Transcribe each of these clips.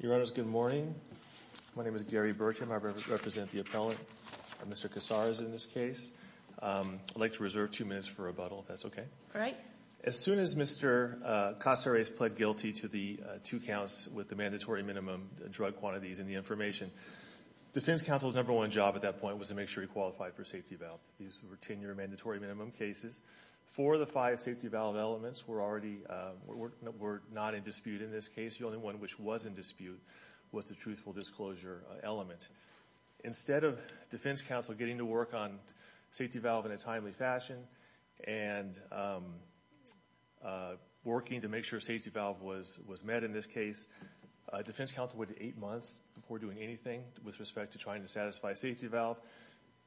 Your Honor, good morning. My name is Gary Bertram. I represent the appellant, Mr. Caceres, in this case. I'd like to reserve two minutes for rebuttal, if that's okay. All right. As soon as Mr. Caceres pled guilty to the two counts with the mandatory minimum drug quantities in the information, defense counsel's number one job at that point was to make sure he qualified for a safety valve. These were 10-year mandatory minimum cases. Four of the five safety valve elements were already – were not in dispute in this case. The only one which was in dispute was the truthful disclosure element. Instead of defense counsel getting to work on safety valve in a timely fashion and working to make sure safety valve was met in this case, defense counsel waited eight months before doing anything with respect to trying to satisfy safety valve.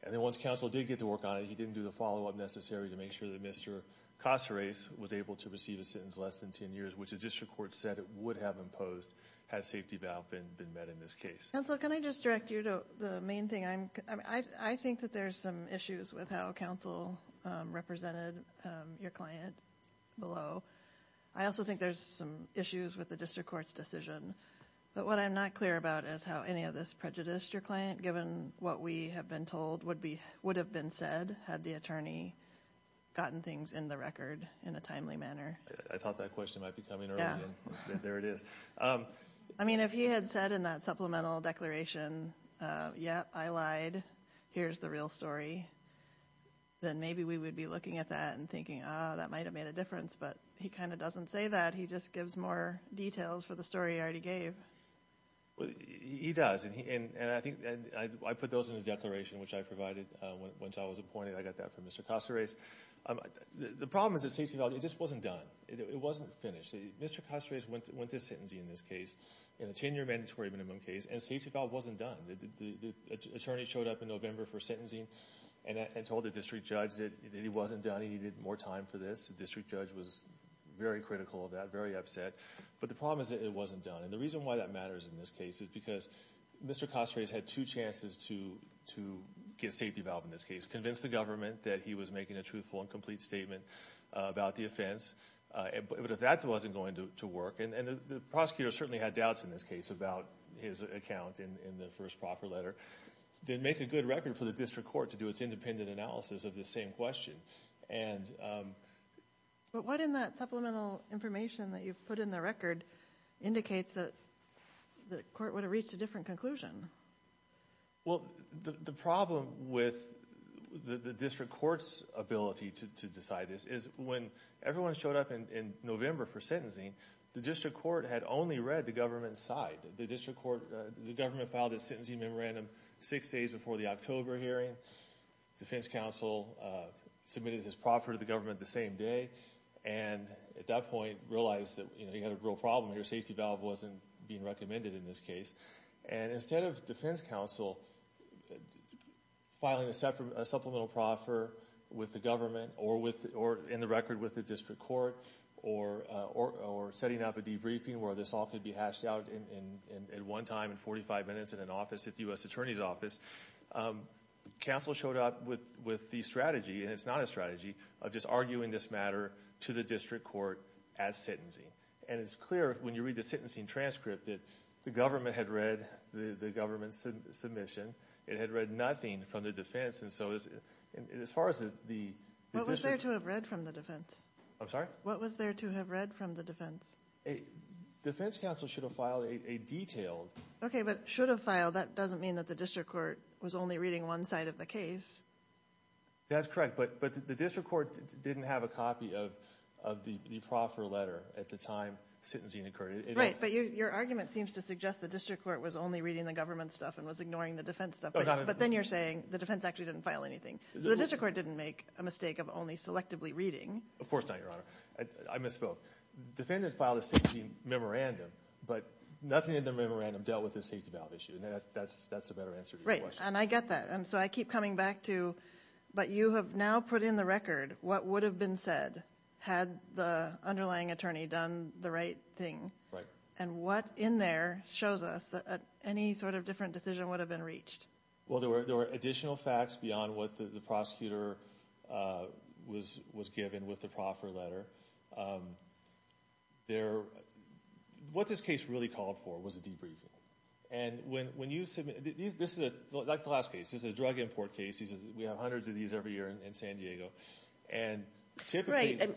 And then once counsel did get to work on it, he didn't do the follow-up necessary to make sure that Mr. Caceres was able to receive a sentence less than 10 years, which the district court said it would have imposed had safety valve been met in this case. Counsel, can I just direct you to the main thing? I think that there's some issues with how counsel represented your client below. I also think there's some issues with the district court's decision. But what I'm not clear about is how any of this prejudiced your client, given what we have been told would have been said had the attorney gotten things in the record in a timely manner. I thought that question might be coming early, and there it is. I mean, if he had said in that supplemental declaration, yep, I lied, here's the real story, then maybe we would be looking at that and thinking, ah, that might have made a difference, but he kind of doesn't say that. He just gives more details for the story he already gave. He does, and I think I put those in the declaration, which I provided once I was appointed. I got that from Mr. Caceres. The problem is that safety valve, it just wasn't done. It wasn't finished. Mr. Caceres went to sentencing in this case, in a 10-year mandatory minimum case, and safety valve wasn't done. The attorney showed up in November for sentencing and told the district judge that it wasn't done, he needed more time for this. The district judge was very critical of that, very upset. But the problem is that it wasn't done, and the reason why that matters in this case is because Mr. Caceres had two chances to get safety valve in this case, to convince the government that he was making a truthful and complete statement about the offense. But if that wasn't going to work, and the prosecutor certainly had doubts in this case about his account in the first proper letter, then make a good record for the district court to do its independent analysis of this same question. But what in that supplemental information that you've put in the record indicates that the court would have reached a different conclusion? Well, the problem with the district court's ability to decide this is when everyone showed up in November for sentencing, the district court had only read the government's side. The government filed its sentencing memorandum six days before the October hearing. Defense counsel submitted his proffer to the government the same day, and at that point realized that he had a real problem, your safety valve wasn't being recommended in this case. And instead of defense counsel filing a supplemental proffer with the government or in the record with the district court, or setting up a debriefing where this all could be hashed out at one time in 45 minutes in an office at the U.S. Attorney's Office, counsel showed up with the strategy, and it's not a strategy, of just arguing this matter to the district court at sentencing. And it's clear when you read the sentencing transcript that the government had read the government's submission. It had read nothing from the defense. And so as far as the district… What was there to have read from the defense? I'm sorry? What was there to have read from the defense? Defense counsel should have filed a detailed… Okay, but should have filed, that doesn't mean that the district court was only reading one side of the case. That's correct, but the district court didn't have a copy of the proffer letter at the time sentencing occurred. Right, but your argument seems to suggest the district court was only reading the government stuff and was ignoring the defense stuff. But then you're saying the defense actually didn't file anything. So the district court didn't make a mistake of only selectively reading. Of course not, Your Honor. I misspoke. Defendant filed a sentencing memorandum, but nothing in the memorandum dealt with the safety valve issue. And that's a better answer to your question. Right, and I get that. And so I keep coming back to, but you have now put in the record what would have been said had the underlying attorney done the right thing. Right. And what in there shows us that any sort of different decision would have been reached? Well, there were additional facts beyond what the prosecutor was given with the proffer letter. What this case really called for was a debriefing. This is like the last case. This is a drug import case. We have hundreds of these every year in San Diego. Right.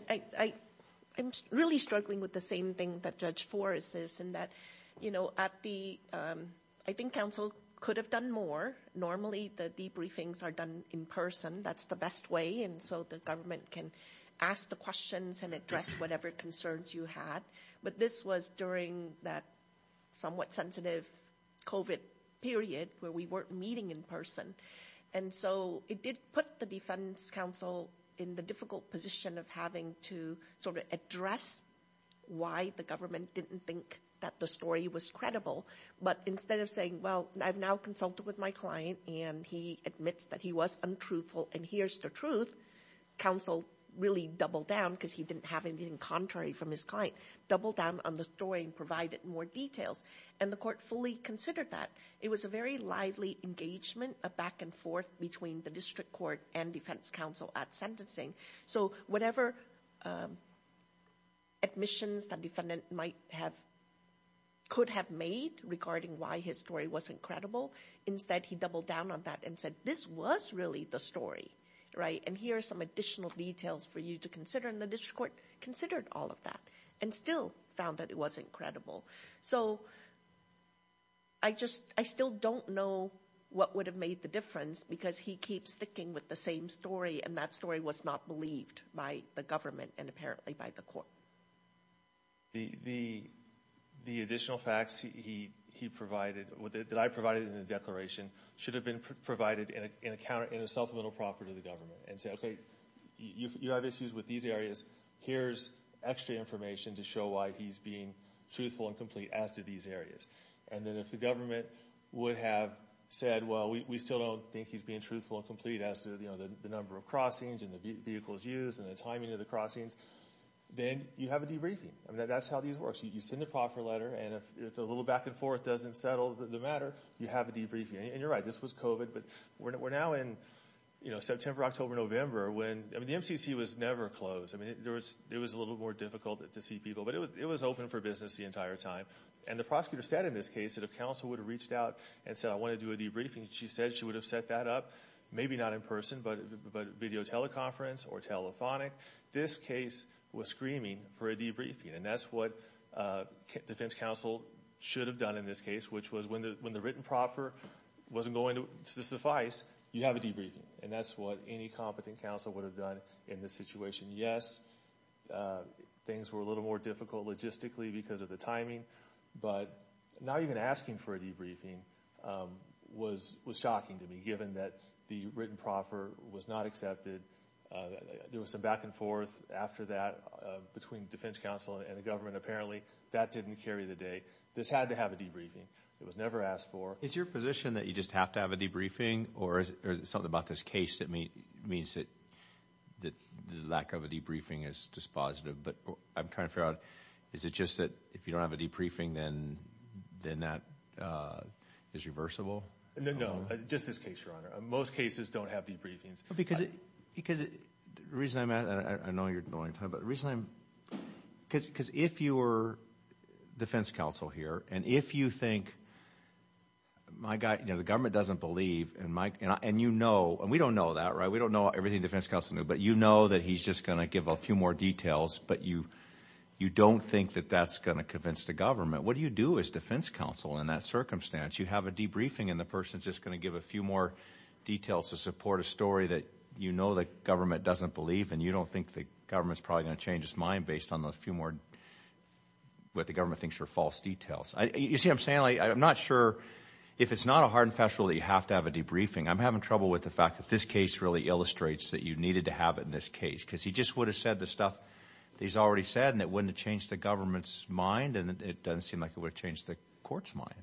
I'm really struggling with the same thing that Judge Forrest is in that I think counsel could have done more. Normally the debriefings are done in person. That's the best way. And so the government can ask the questions and address whatever concerns you had. But this was during that somewhat sensitive COVID period where we weren't meeting in person. And so it did put the defense counsel in the difficult position of having to sort of address why the government didn't think that the story was credible. But instead of saying, well, I've now consulted with my client, and he admits that he was untruthful, and here's the truth, counsel really doubled down because he didn't have anything contrary from his client, doubled down on the story and provided more details. And the court fully considered that. It was a very lively engagement, a back and forth between the district court and defense counsel at sentencing. So whatever admissions the defendant could have made regarding why his story wasn't credible, instead he doubled down on that and said, this was really the story. And here are some additional details for you to consider. And the district court considered all of that and still found that it wasn't credible. So I still don't know what would have made the difference because he keeps sticking with the same story, and that story was not believed by the government and apparently by the court. The additional facts he provided, that I provided in the declaration, should have been provided in a supplemental proffer to the government and said, okay, you have issues with these areas. Here's extra information to show why he's being truthful and complete as to these areas. And then if the government would have said, well, we still don't think he's being truthful and complete as to the number of crossings and the vehicles used and the timing of the crossings, then you have a debriefing. That's how these work. You send a proffer letter and if the little back and forth doesn't settle the matter, you have a debriefing. And you're right, this was COVID, but we're now in September, October, November. The MCC was never closed. It was a little more difficult to see people, but it was open for business the entire time. And the prosecutor said in this case that if counsel would have reached out and said, I want to do a debriefing, she said she would have set that up, maybe not in person, but video teleconference or telephonic. This case was screaming for a debriefing. And that's what defense counsel should have done in this case, which was when the written proffer wasn't going to suffice, you have a debriefing. And that's what any competent counsel would have done in this situation. Yes, things were a little more difficult logistically because of the timing, but not even asking for a debriefing was shocking to me given that the written proffer was not accepted. There was some back and forth after that between defense counsel and the government apparently. That didn't carry the day. This had to have a debriefing. It was never asked for. Is your position that you just have to have a debriefing, or is it something about this case that means that the lack of a debriefing is dispositive? But I'm trying to figure out, is it just that if you don't have a debriefing, then that is reversible? No, just this case, Your Honor. Most cases don't have debriefings. Because the reason I'm asking, and I know you're going to talk about it, because if you were defense counsel here, and if you think, you know, the government doesn't believe, and you know, and we don't know that, right? We don't know everything defense counsel knew, but you know that he's just going to give a few more details, but you don't think that that's going to convince the government. What do you do as defense counsel in that circumstance? You have a debriefing, and the person is just going to give a few more details to support a story that you know the government doesn't believe, and you don't think the government is probably going to change its mind based on a few more, what the government thinks are false details. You see what I'm saying? I'm not sure if it's not a hard and fast rule that you have to have a debriefing. I'm having trouble with the fact that this case really illustrates that you needed to have it in this case, because he just would have said the stuff that he's already said, and it wouldn't have changed the government's mind, and it doesn't seem like it would have changed the court's mind.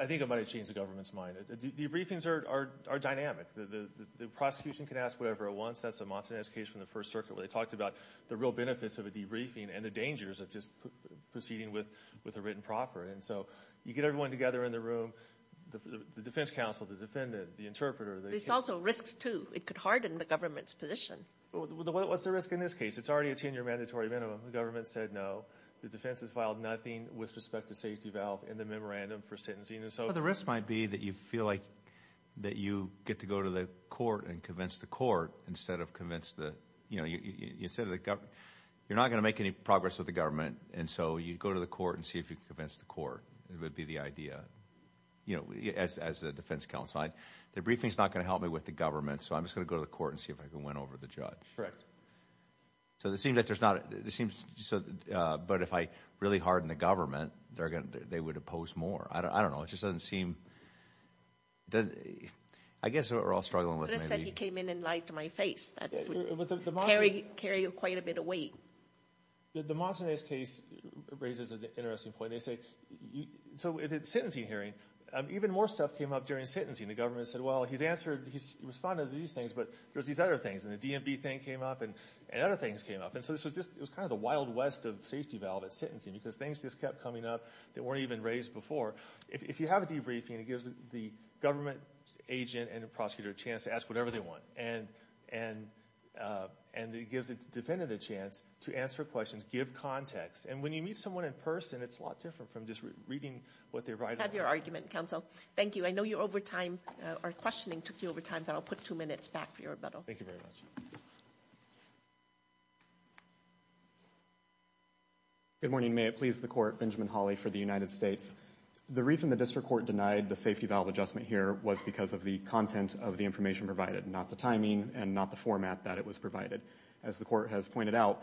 I think it might have changed the government's mind. Debriefings are dynamic. The prosecution can ask whatever it wants. That's the Montanez case from the First Circuit where they talked about the real benefits of a debriefing and the dangers of just proceeding with a written proffer, and so you get everyone together in the room, the defense counsel, the defendant, the interpreter. There's also risks, too. It could harden the government's position. What's the risk in this case? It's already a 10-year mandatory minimum. The government said no. The defense has filed nothing with respect to safety valve in the memorandum for sentencing. The risk might be that you feel like you get to go to the court and convince the court instead of convince the government. You're not going to make any progress with the government, and so you go to the court and see if you can convince the court. That would be the idea as the defense counsel. The briefing is not going to help me with the government, so I'm just going to go to the court and see if I can win over the judge. Correct. But if I really harden the government, they would oppose more. I don't know. It just doesn't seem – I guess what we're all struggling with. You could have said he came in and lied to my face. That would carry quite a bit of weight. The Montanez case raises an interesting point. They say – so at the sentencing hearing, even more stuff came up during sentencing. The government said, well, he's responded to these things, but there's these other things, and the DMV thing came up, and other things came up. And so it was kind of the Wild West of safety valve at sentencing because things just kept coming up that weren't even raised before. If you have a debriefing, it gives the government agent and the prosecutor a chance to ask whatever they want, and it gives a defendant a chance to answer questions, give context. And when you meet someone in person, it's a lot different from just reading what they write. I have your argument, counsel. Thank you. I know you're over time – our questioning took you over time, but I'll put two minutes back for your rebuttal. Thank you very much. Good morning. May it please the Court. Benjamin Hawley for the United States. The reason the district court denied the safety valve adjustment here was because of the content of the information provided, not the timing and not the format that it was provided. As the court has pointed out,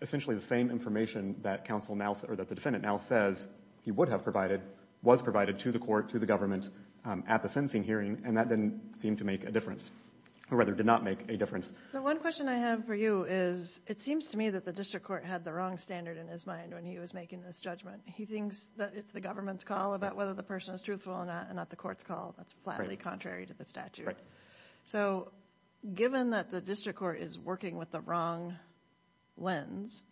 essentially the same information that the defendant now says he would have provided was provided to the court, to the government, at the sentencing hearing, and that didn't seem to make a difference, or rather did not make a difference. The one question I have for you is it seems to me that the district court had the wrong standard in his mind when he was making this judgment. He thinks that it's the government's call about whether the person is truthful or not, and not the court's call. That's flatly contrary to the statute. Right. So given that the district court is working with the wrong lens,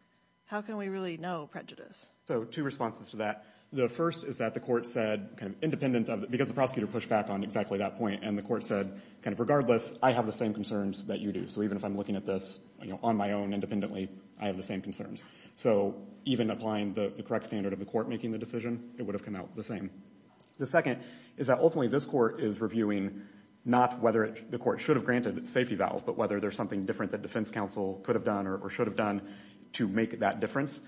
how can we really know prejudice? So two responses to that. The first is that the court said kind of independent of the — because the prosecutor pushed back on exactly that point, and the court said kind of regardless, I have the same concerns that you do. So even if I'm looking at this, you know, on my own independently, I have the same concerns. So even applying the correct standard of the court making the decision, it would have come out the same. The second is that ultimately this court is reviewing not whether the court should have granted safety valves, but whether there's something different that defense counsel could have done or should have done to make that difference.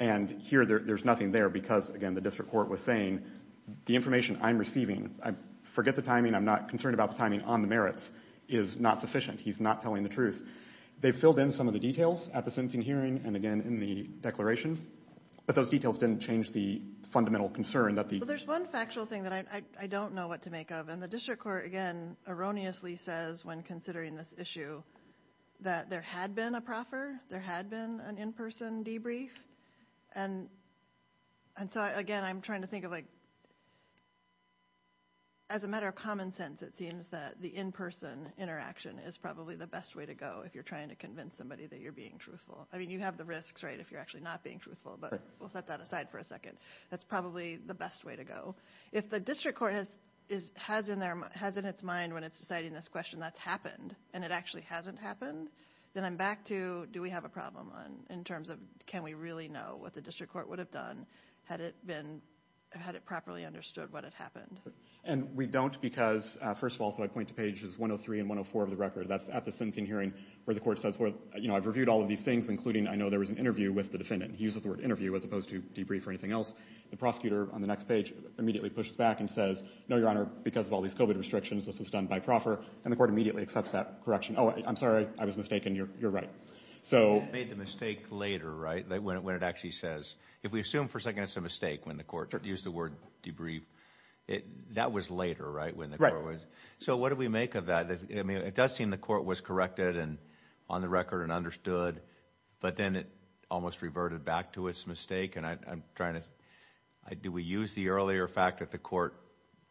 And here there's nothing there because, again, the district court was saying the information I'm receiving, I forget the timing, I'm not concerned about the timing on the merits, is not sufficient. He's not telling the truth. They filled in some of the details at the sentencing hearing and, again, in the declaration, but those details didn't change the fundamental concern that the — Well, there's one factual thing that I don't know what to make of, and the district court, again, erroneously says when considering this issue that there had been a proffer, there had been an in-person debrief. And so, again, I'm trying to think of, like, as a matter of common sense, it seems that the in-person interaction is probably the best way to go if you're trying to convince somebody that you're being truthful. I mean, you have the risks, right, if you're actually not being truthful, but we'll set that aside for a second. That's probably the best way to go. If the district court has in its mind when it's deciding this question that's happened and it actually hasn't happened, then I'm back to do we have a problem in terms of can we really know what the district court would have done had it been — had it properly understood what had happened. And we don't because, first of all, so I point to pages 103 and 104 of the record. That's at the sentencing hearing where the court says, well, you know, I've reviewed all of these things, including I know there was an interview with the defendant. He uses the word interview as opposed to debrief or anything else. The prosecutor on the next page immediately pushes back and says, no, Your Honor, because of all these COVID restrictions, this was done by proffer. And the court immediately accepts that correction. Oh, I'm sorry. I was mistaken. You're right. So — You made the mistake later, right, when it actually says — if we assume for a second it's a mistake when the court used the word debrief. That was later, right, when the court was — So what do we make of that? I mean, it does seem the court was corrected and on the record and understood. But then it almost reverted back to its mistake. And I'm trying to — do we use the earlier fact that the court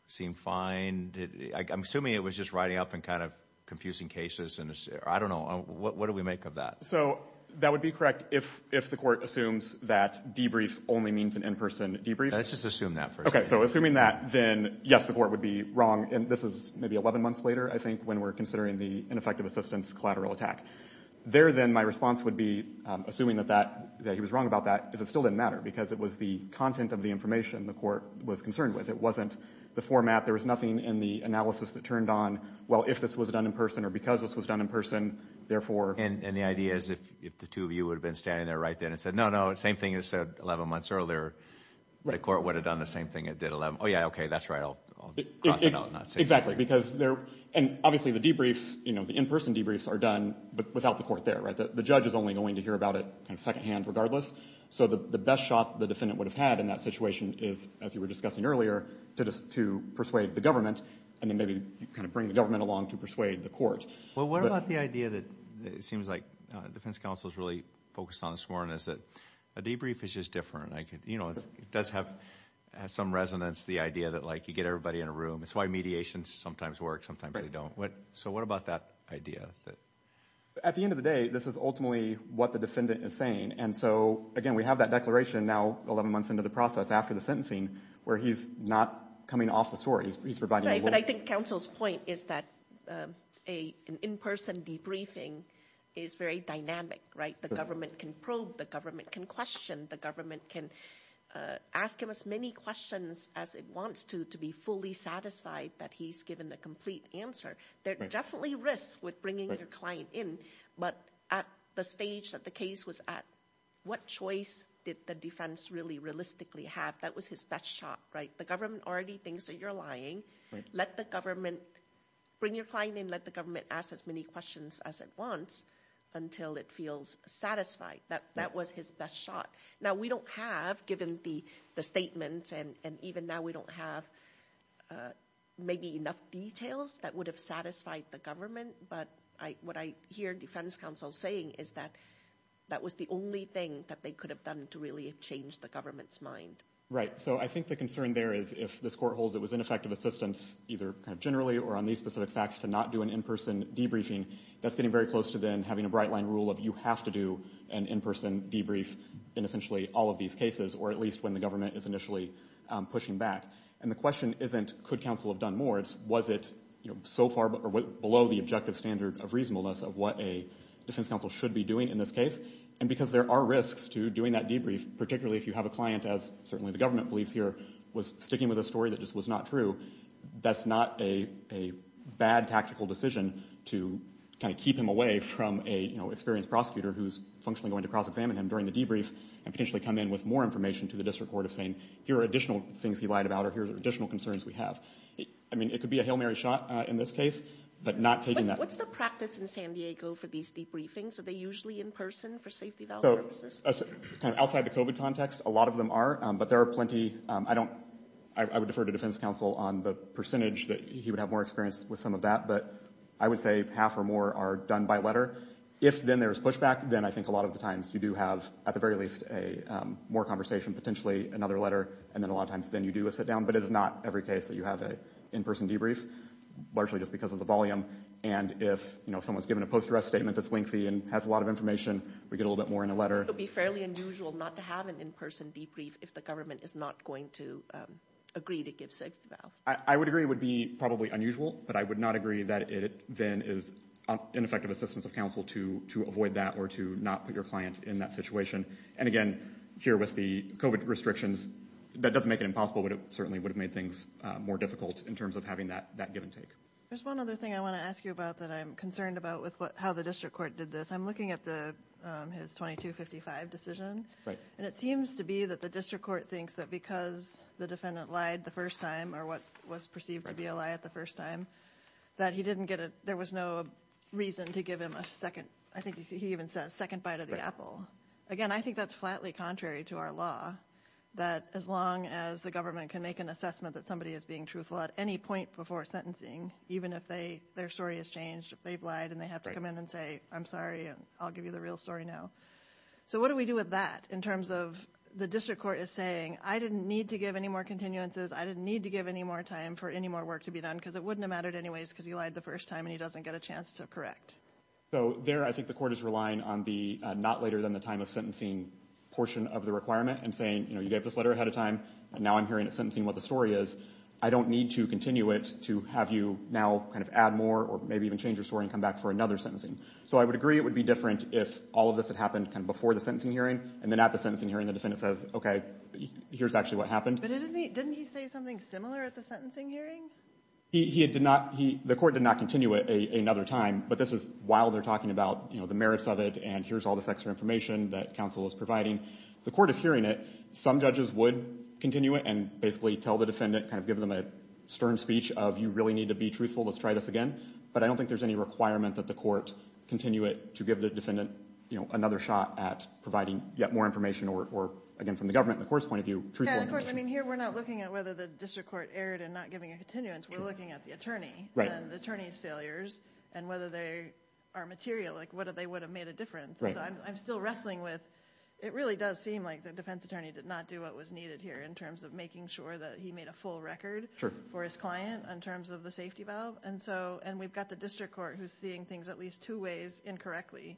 seemed fine? And I'm assuming it was just riding up in kind of confusing cases. I don't know. What do we make of that? So that would be correct if the court assumes that debrief only means an in-person debrief? Let's just assume that for a second. Okay. So assuming that, then, yes, the court would be wrong. And this is maybe 11 months later, I think, when we're considering the ineffective assistance collateral attack. There, then, my response would be, assuming that he was wrong about that, is it still didn't matter because it was the content of the information the court was concerned with. It wasn't the format. In fact, there was nothing in the analysis that turned on, well, if this was done in person or because this was done in person, therefore — And the idea is if the two of you would have been standing there right then and said, no, no, same thing you said 11 months earlier, the court would have done the same thing it did 11 — oh, yeah, okay, that's right, I'll cross it out and not say anything. Exactly. Because there — and obviously the debriefs, you know, the in-person debriefs are done without the court there, right? The judge is only going to hear about it kind of secondhand regardless. So the best shot the defendant would have had in that situation is, as you were discussing earlier, to persuade the government and then maybe kind of bring the government along to persuade the court. Well, what about the idea that it seems like defense counsel is really focused on this morning is that a debrief is just different. You know, it does have some resonance, the idea that, like, you get everybody in a room. That's why mediations sometimes work, sometimes they don't. Right. So what about that idea? At the end of the day, this is ultimately what the defendant is saying. And so, again, we have that declaration now 11 months into the process after the sentencing where he's not coming off the store, he's providing — Right, but I think counsel's point is that an in-person debriefing is very dynamic, right? The government can probe, the government can question, the government can ask him as many questions as it wants to, to be fully satisfied that he's given a complete answer. There are definitely risks with bringing your client in, but at the stage that the case was at, what choice did the defense really realistically have? That was his best shot, right? The government already thinks that you're lying. Let the government — bring your client in, let the government ask as many questions as it wants until it feels satisfied. That was his best shot. Now, we don't have, given the statements, and even now we don't have maybe enough details that would have satisfied the government, but what I hear defense counsel saying is that that was the only thing that they could have done to really change the government's mind. Right, so I think the concern there is if this court holds it was ineffective assistance, either kind of generally or on these specific facts, to not do an in-person debriefing, that's getting very close to then having a bright-line rule of you have to do an in-person debrief in essentially all of these cases, or at least when the government is initially pushing back. And the question isn't could counsel have done more, it's was it so far below the objective standard of reasonableness of what a defense counsel should be doing in this case. And because there are risks to doing that debrief, particularly if you have a client, as certainly the government believes here, was sticking with a story that just was not true, that's not a bad tactical decision to kind of keep him away from a, you know, experienced prosecutor who's functionally going to cross-examine him during the debrief and potentially come in with more information to the district court of saying here are additional things he lied about or here are additional concerns we have. I mean, it could be a Hail Mary shot in this case, but not taking that. What's the practice in San Diego for these debriefings? Are they usually in person for safety- Outside the COVID context, a lot of them are, but there are plenty. I don't, I would defer to defense counsel on the percentage that he would have more experience with some of that, but I would say half or more are done by letter. If then there is pushback, then I think a lot of the times you do have at the very least a more conversation, potentially another letter. And then a lot of times then you do a sit down, but it is not every case that you have an in-person debrief, largely just because of the volume. And if, you know, someone's given a post-arrest statement that's lengthy and has a lot of information, we get a little bit more in a letter. It would be fairly unusual not to have an in-person debrief if the government is not going to agree to give safety- I would agree it would be probably unusual, but I would not agree that it then is ineffective assistance of counsel to avoid that or to not put your client in that situation. And again, here with the COVID restrictions, that doesn't make it impossible, but it certainly would have made things more difficult in terms of having that give and take. There's one other thing I want to ask you about that I'm concerned about with what, how the district court did this. I'm looking at the, his 2255 decision. Right. And it seems to be that the district court thinks that because the defendant lied the first time or what was perceived to be a lie at the first time, that he didn't get a, there was no reason to give him a second, I think he even says second bite of the apple. Again, I think that's flatly contrary to our law, that as long as the government can make an assessment that somebody is being truthful at any point before sentencing, even if they, their story has changed, if they've lied and they have to come in and say, I'm sorry, I'll give you the real story now. So what do we do with that in terms of the district court is saying, I didn't need to give any more continuances, I didn't need to give any more time for any more work to be done because it wouldn't have mattered anyways because he lied the first time and he doesn't get a chance to correct. So there I think the court is relying on the not later than the time of sentencing portion of the requirement and saying, you know, you gave this letter ahead of time and now I'm hearing at sentencing what the story is. I don't need to continue it to have you now kind of add more or maybe even change your story and come back for another sentencing. So I would agree it would be different if all of this had happened kind of before the sentencing hearing and then at the sentencing hearing the defendant says, okay, here's actually what happened. But didn't he say something similar at the sentencing hearing? He did not. The court did not continue it another time. But this is while they're talking about, you know, the merits of it and here's all this extra information that counsel is providing. The court is hearing it. Some judges would continue it and basically tell the defendant, kind of give them a stern speech of you really need to be truthful, let's try this again. But I don't think there's any requirement that the court continue it to give the defendant, you know, another shot at providing yet more information or, again, from the government and the court's point of view, truthfully. Yeah, and of course, I mean, here we're not looking at whether the district court erred in not giving a continuance. We're looking at the attorney and the attorney's failures and whether they are material, like whether they would have made a difference. So I'm still wrestling with it really does seem like the defense attorney did not do what was needed here in terms of making sure that he made a full record for his client in terms of the safety valve. And we've got the district court who's seeing things at least two ways incorrectly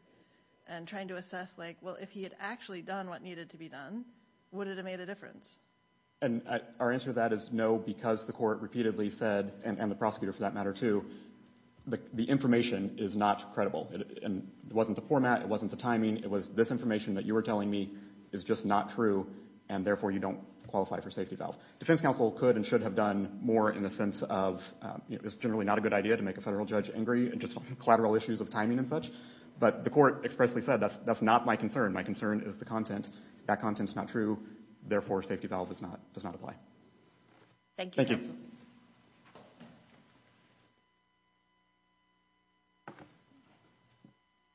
and trying to assess, like, well, if he had actually done what needed to be done, would it have made a difference? And our answer to that is no, because the court repeatedly said, and the prosecutor for that matter, too, the information is not credible. It wasn't the format. It wasn't the timing. It was this information that you were telling me is just not true, and therefore you don't qualify for safety valve. Defense counsel could and should have done more in the sense of, you know, it's generally not a good idea to make a federal judge angry and just collateral issues of timing and such. But the court expressly said that's not my concern. My concern is the content. That content is not true. Therefore, safety valve does not apply. Thank you. Thank you.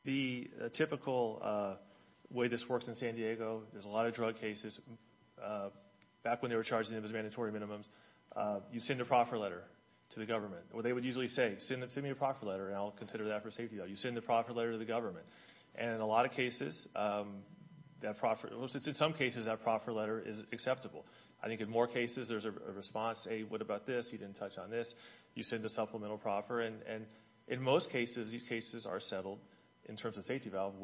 The typical way this works in San Diego, there's a lot of drug cases. Back when they were charging them as mandatory minimums, you send a proffer letter to the government, or they would usually say, send me a proffer letter and I'll consider that for safety. You send a proffer letter to the government. And in a lot of cases, that proffer, in some cases, that proffer letter is acceptable. I think in more cases, there's a response, hey, what about this? He didn't touch on this. You send a supplemental proffer. And in most cases, these cases are settled in terms of safety valve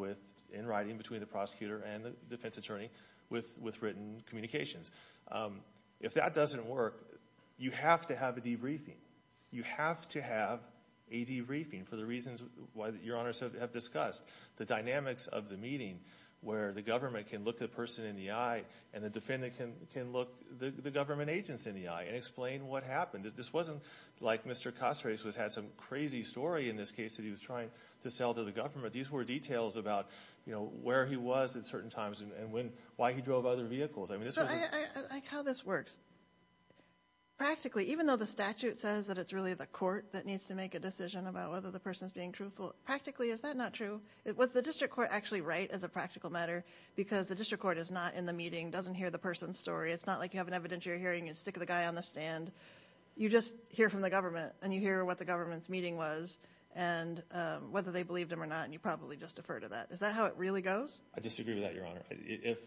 in writing between the prosecutor and the defense attorney with written communications. If that doesn't work, you have to have a debriefing. You have to have a debriefing for the reasons why your honors have discussed. The dynamics of the meeting where the government can look the person in the eye and the defendant can look the government agents in the eye and explain what happened. This wasn't like Mr. Costrase had some crazy story in this case that he was trying to sell to the government. These were details about where he was at certain times and why he drove other vehicles. I like how this works. Practically, even though the statute says that it's really the court that needs to make a decision about whether the person is being truthful, practically, is that not true? Was the district court actually right as a practical matter? Because the district court is not in the meeting, doesn't hear the person's story. It's not like you have an evidentiary hearing. You stick the guy on the stand. You just hear from the government. And you hear what the government's meeting was and whether they believed him or not. And you probably just defer to that. Is that how it really goes? I disagree with that, your honor. If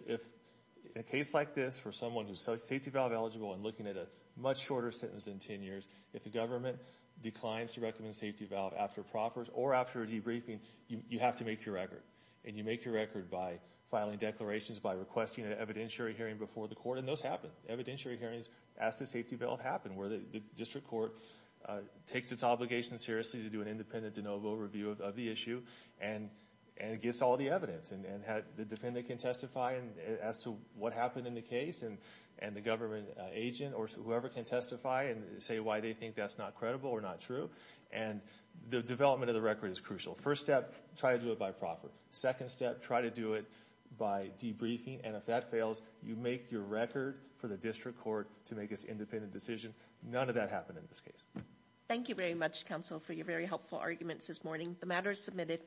a case like this for someone who's safety valve eligible and looking at a much shorter sentence than 10 years, if the government declines to recommend safety valve after proffers or after a debriefing, you have to make your record. And you make your record by filing declarations, by requesting an evidentiary hearing before the court. And those happen. Evidentiary hearings as the safety valve happen where the district court takes its obligation seriously to do an independent de novo review of the issue and gives all the evidence. And the defendant can testify as to what happened in the case. And the government agent or whoever can testify and say why they think that's not credible or not true. And the development of the record is crucial. First step, try to do it by proffer. Second step, try to do it by debriefing. And if that fails, you make your record for the district court to make its independent decision. None of that happened in this case. Thank you very much, counsel, for your very helpful arguments this morning. The matter is submitted.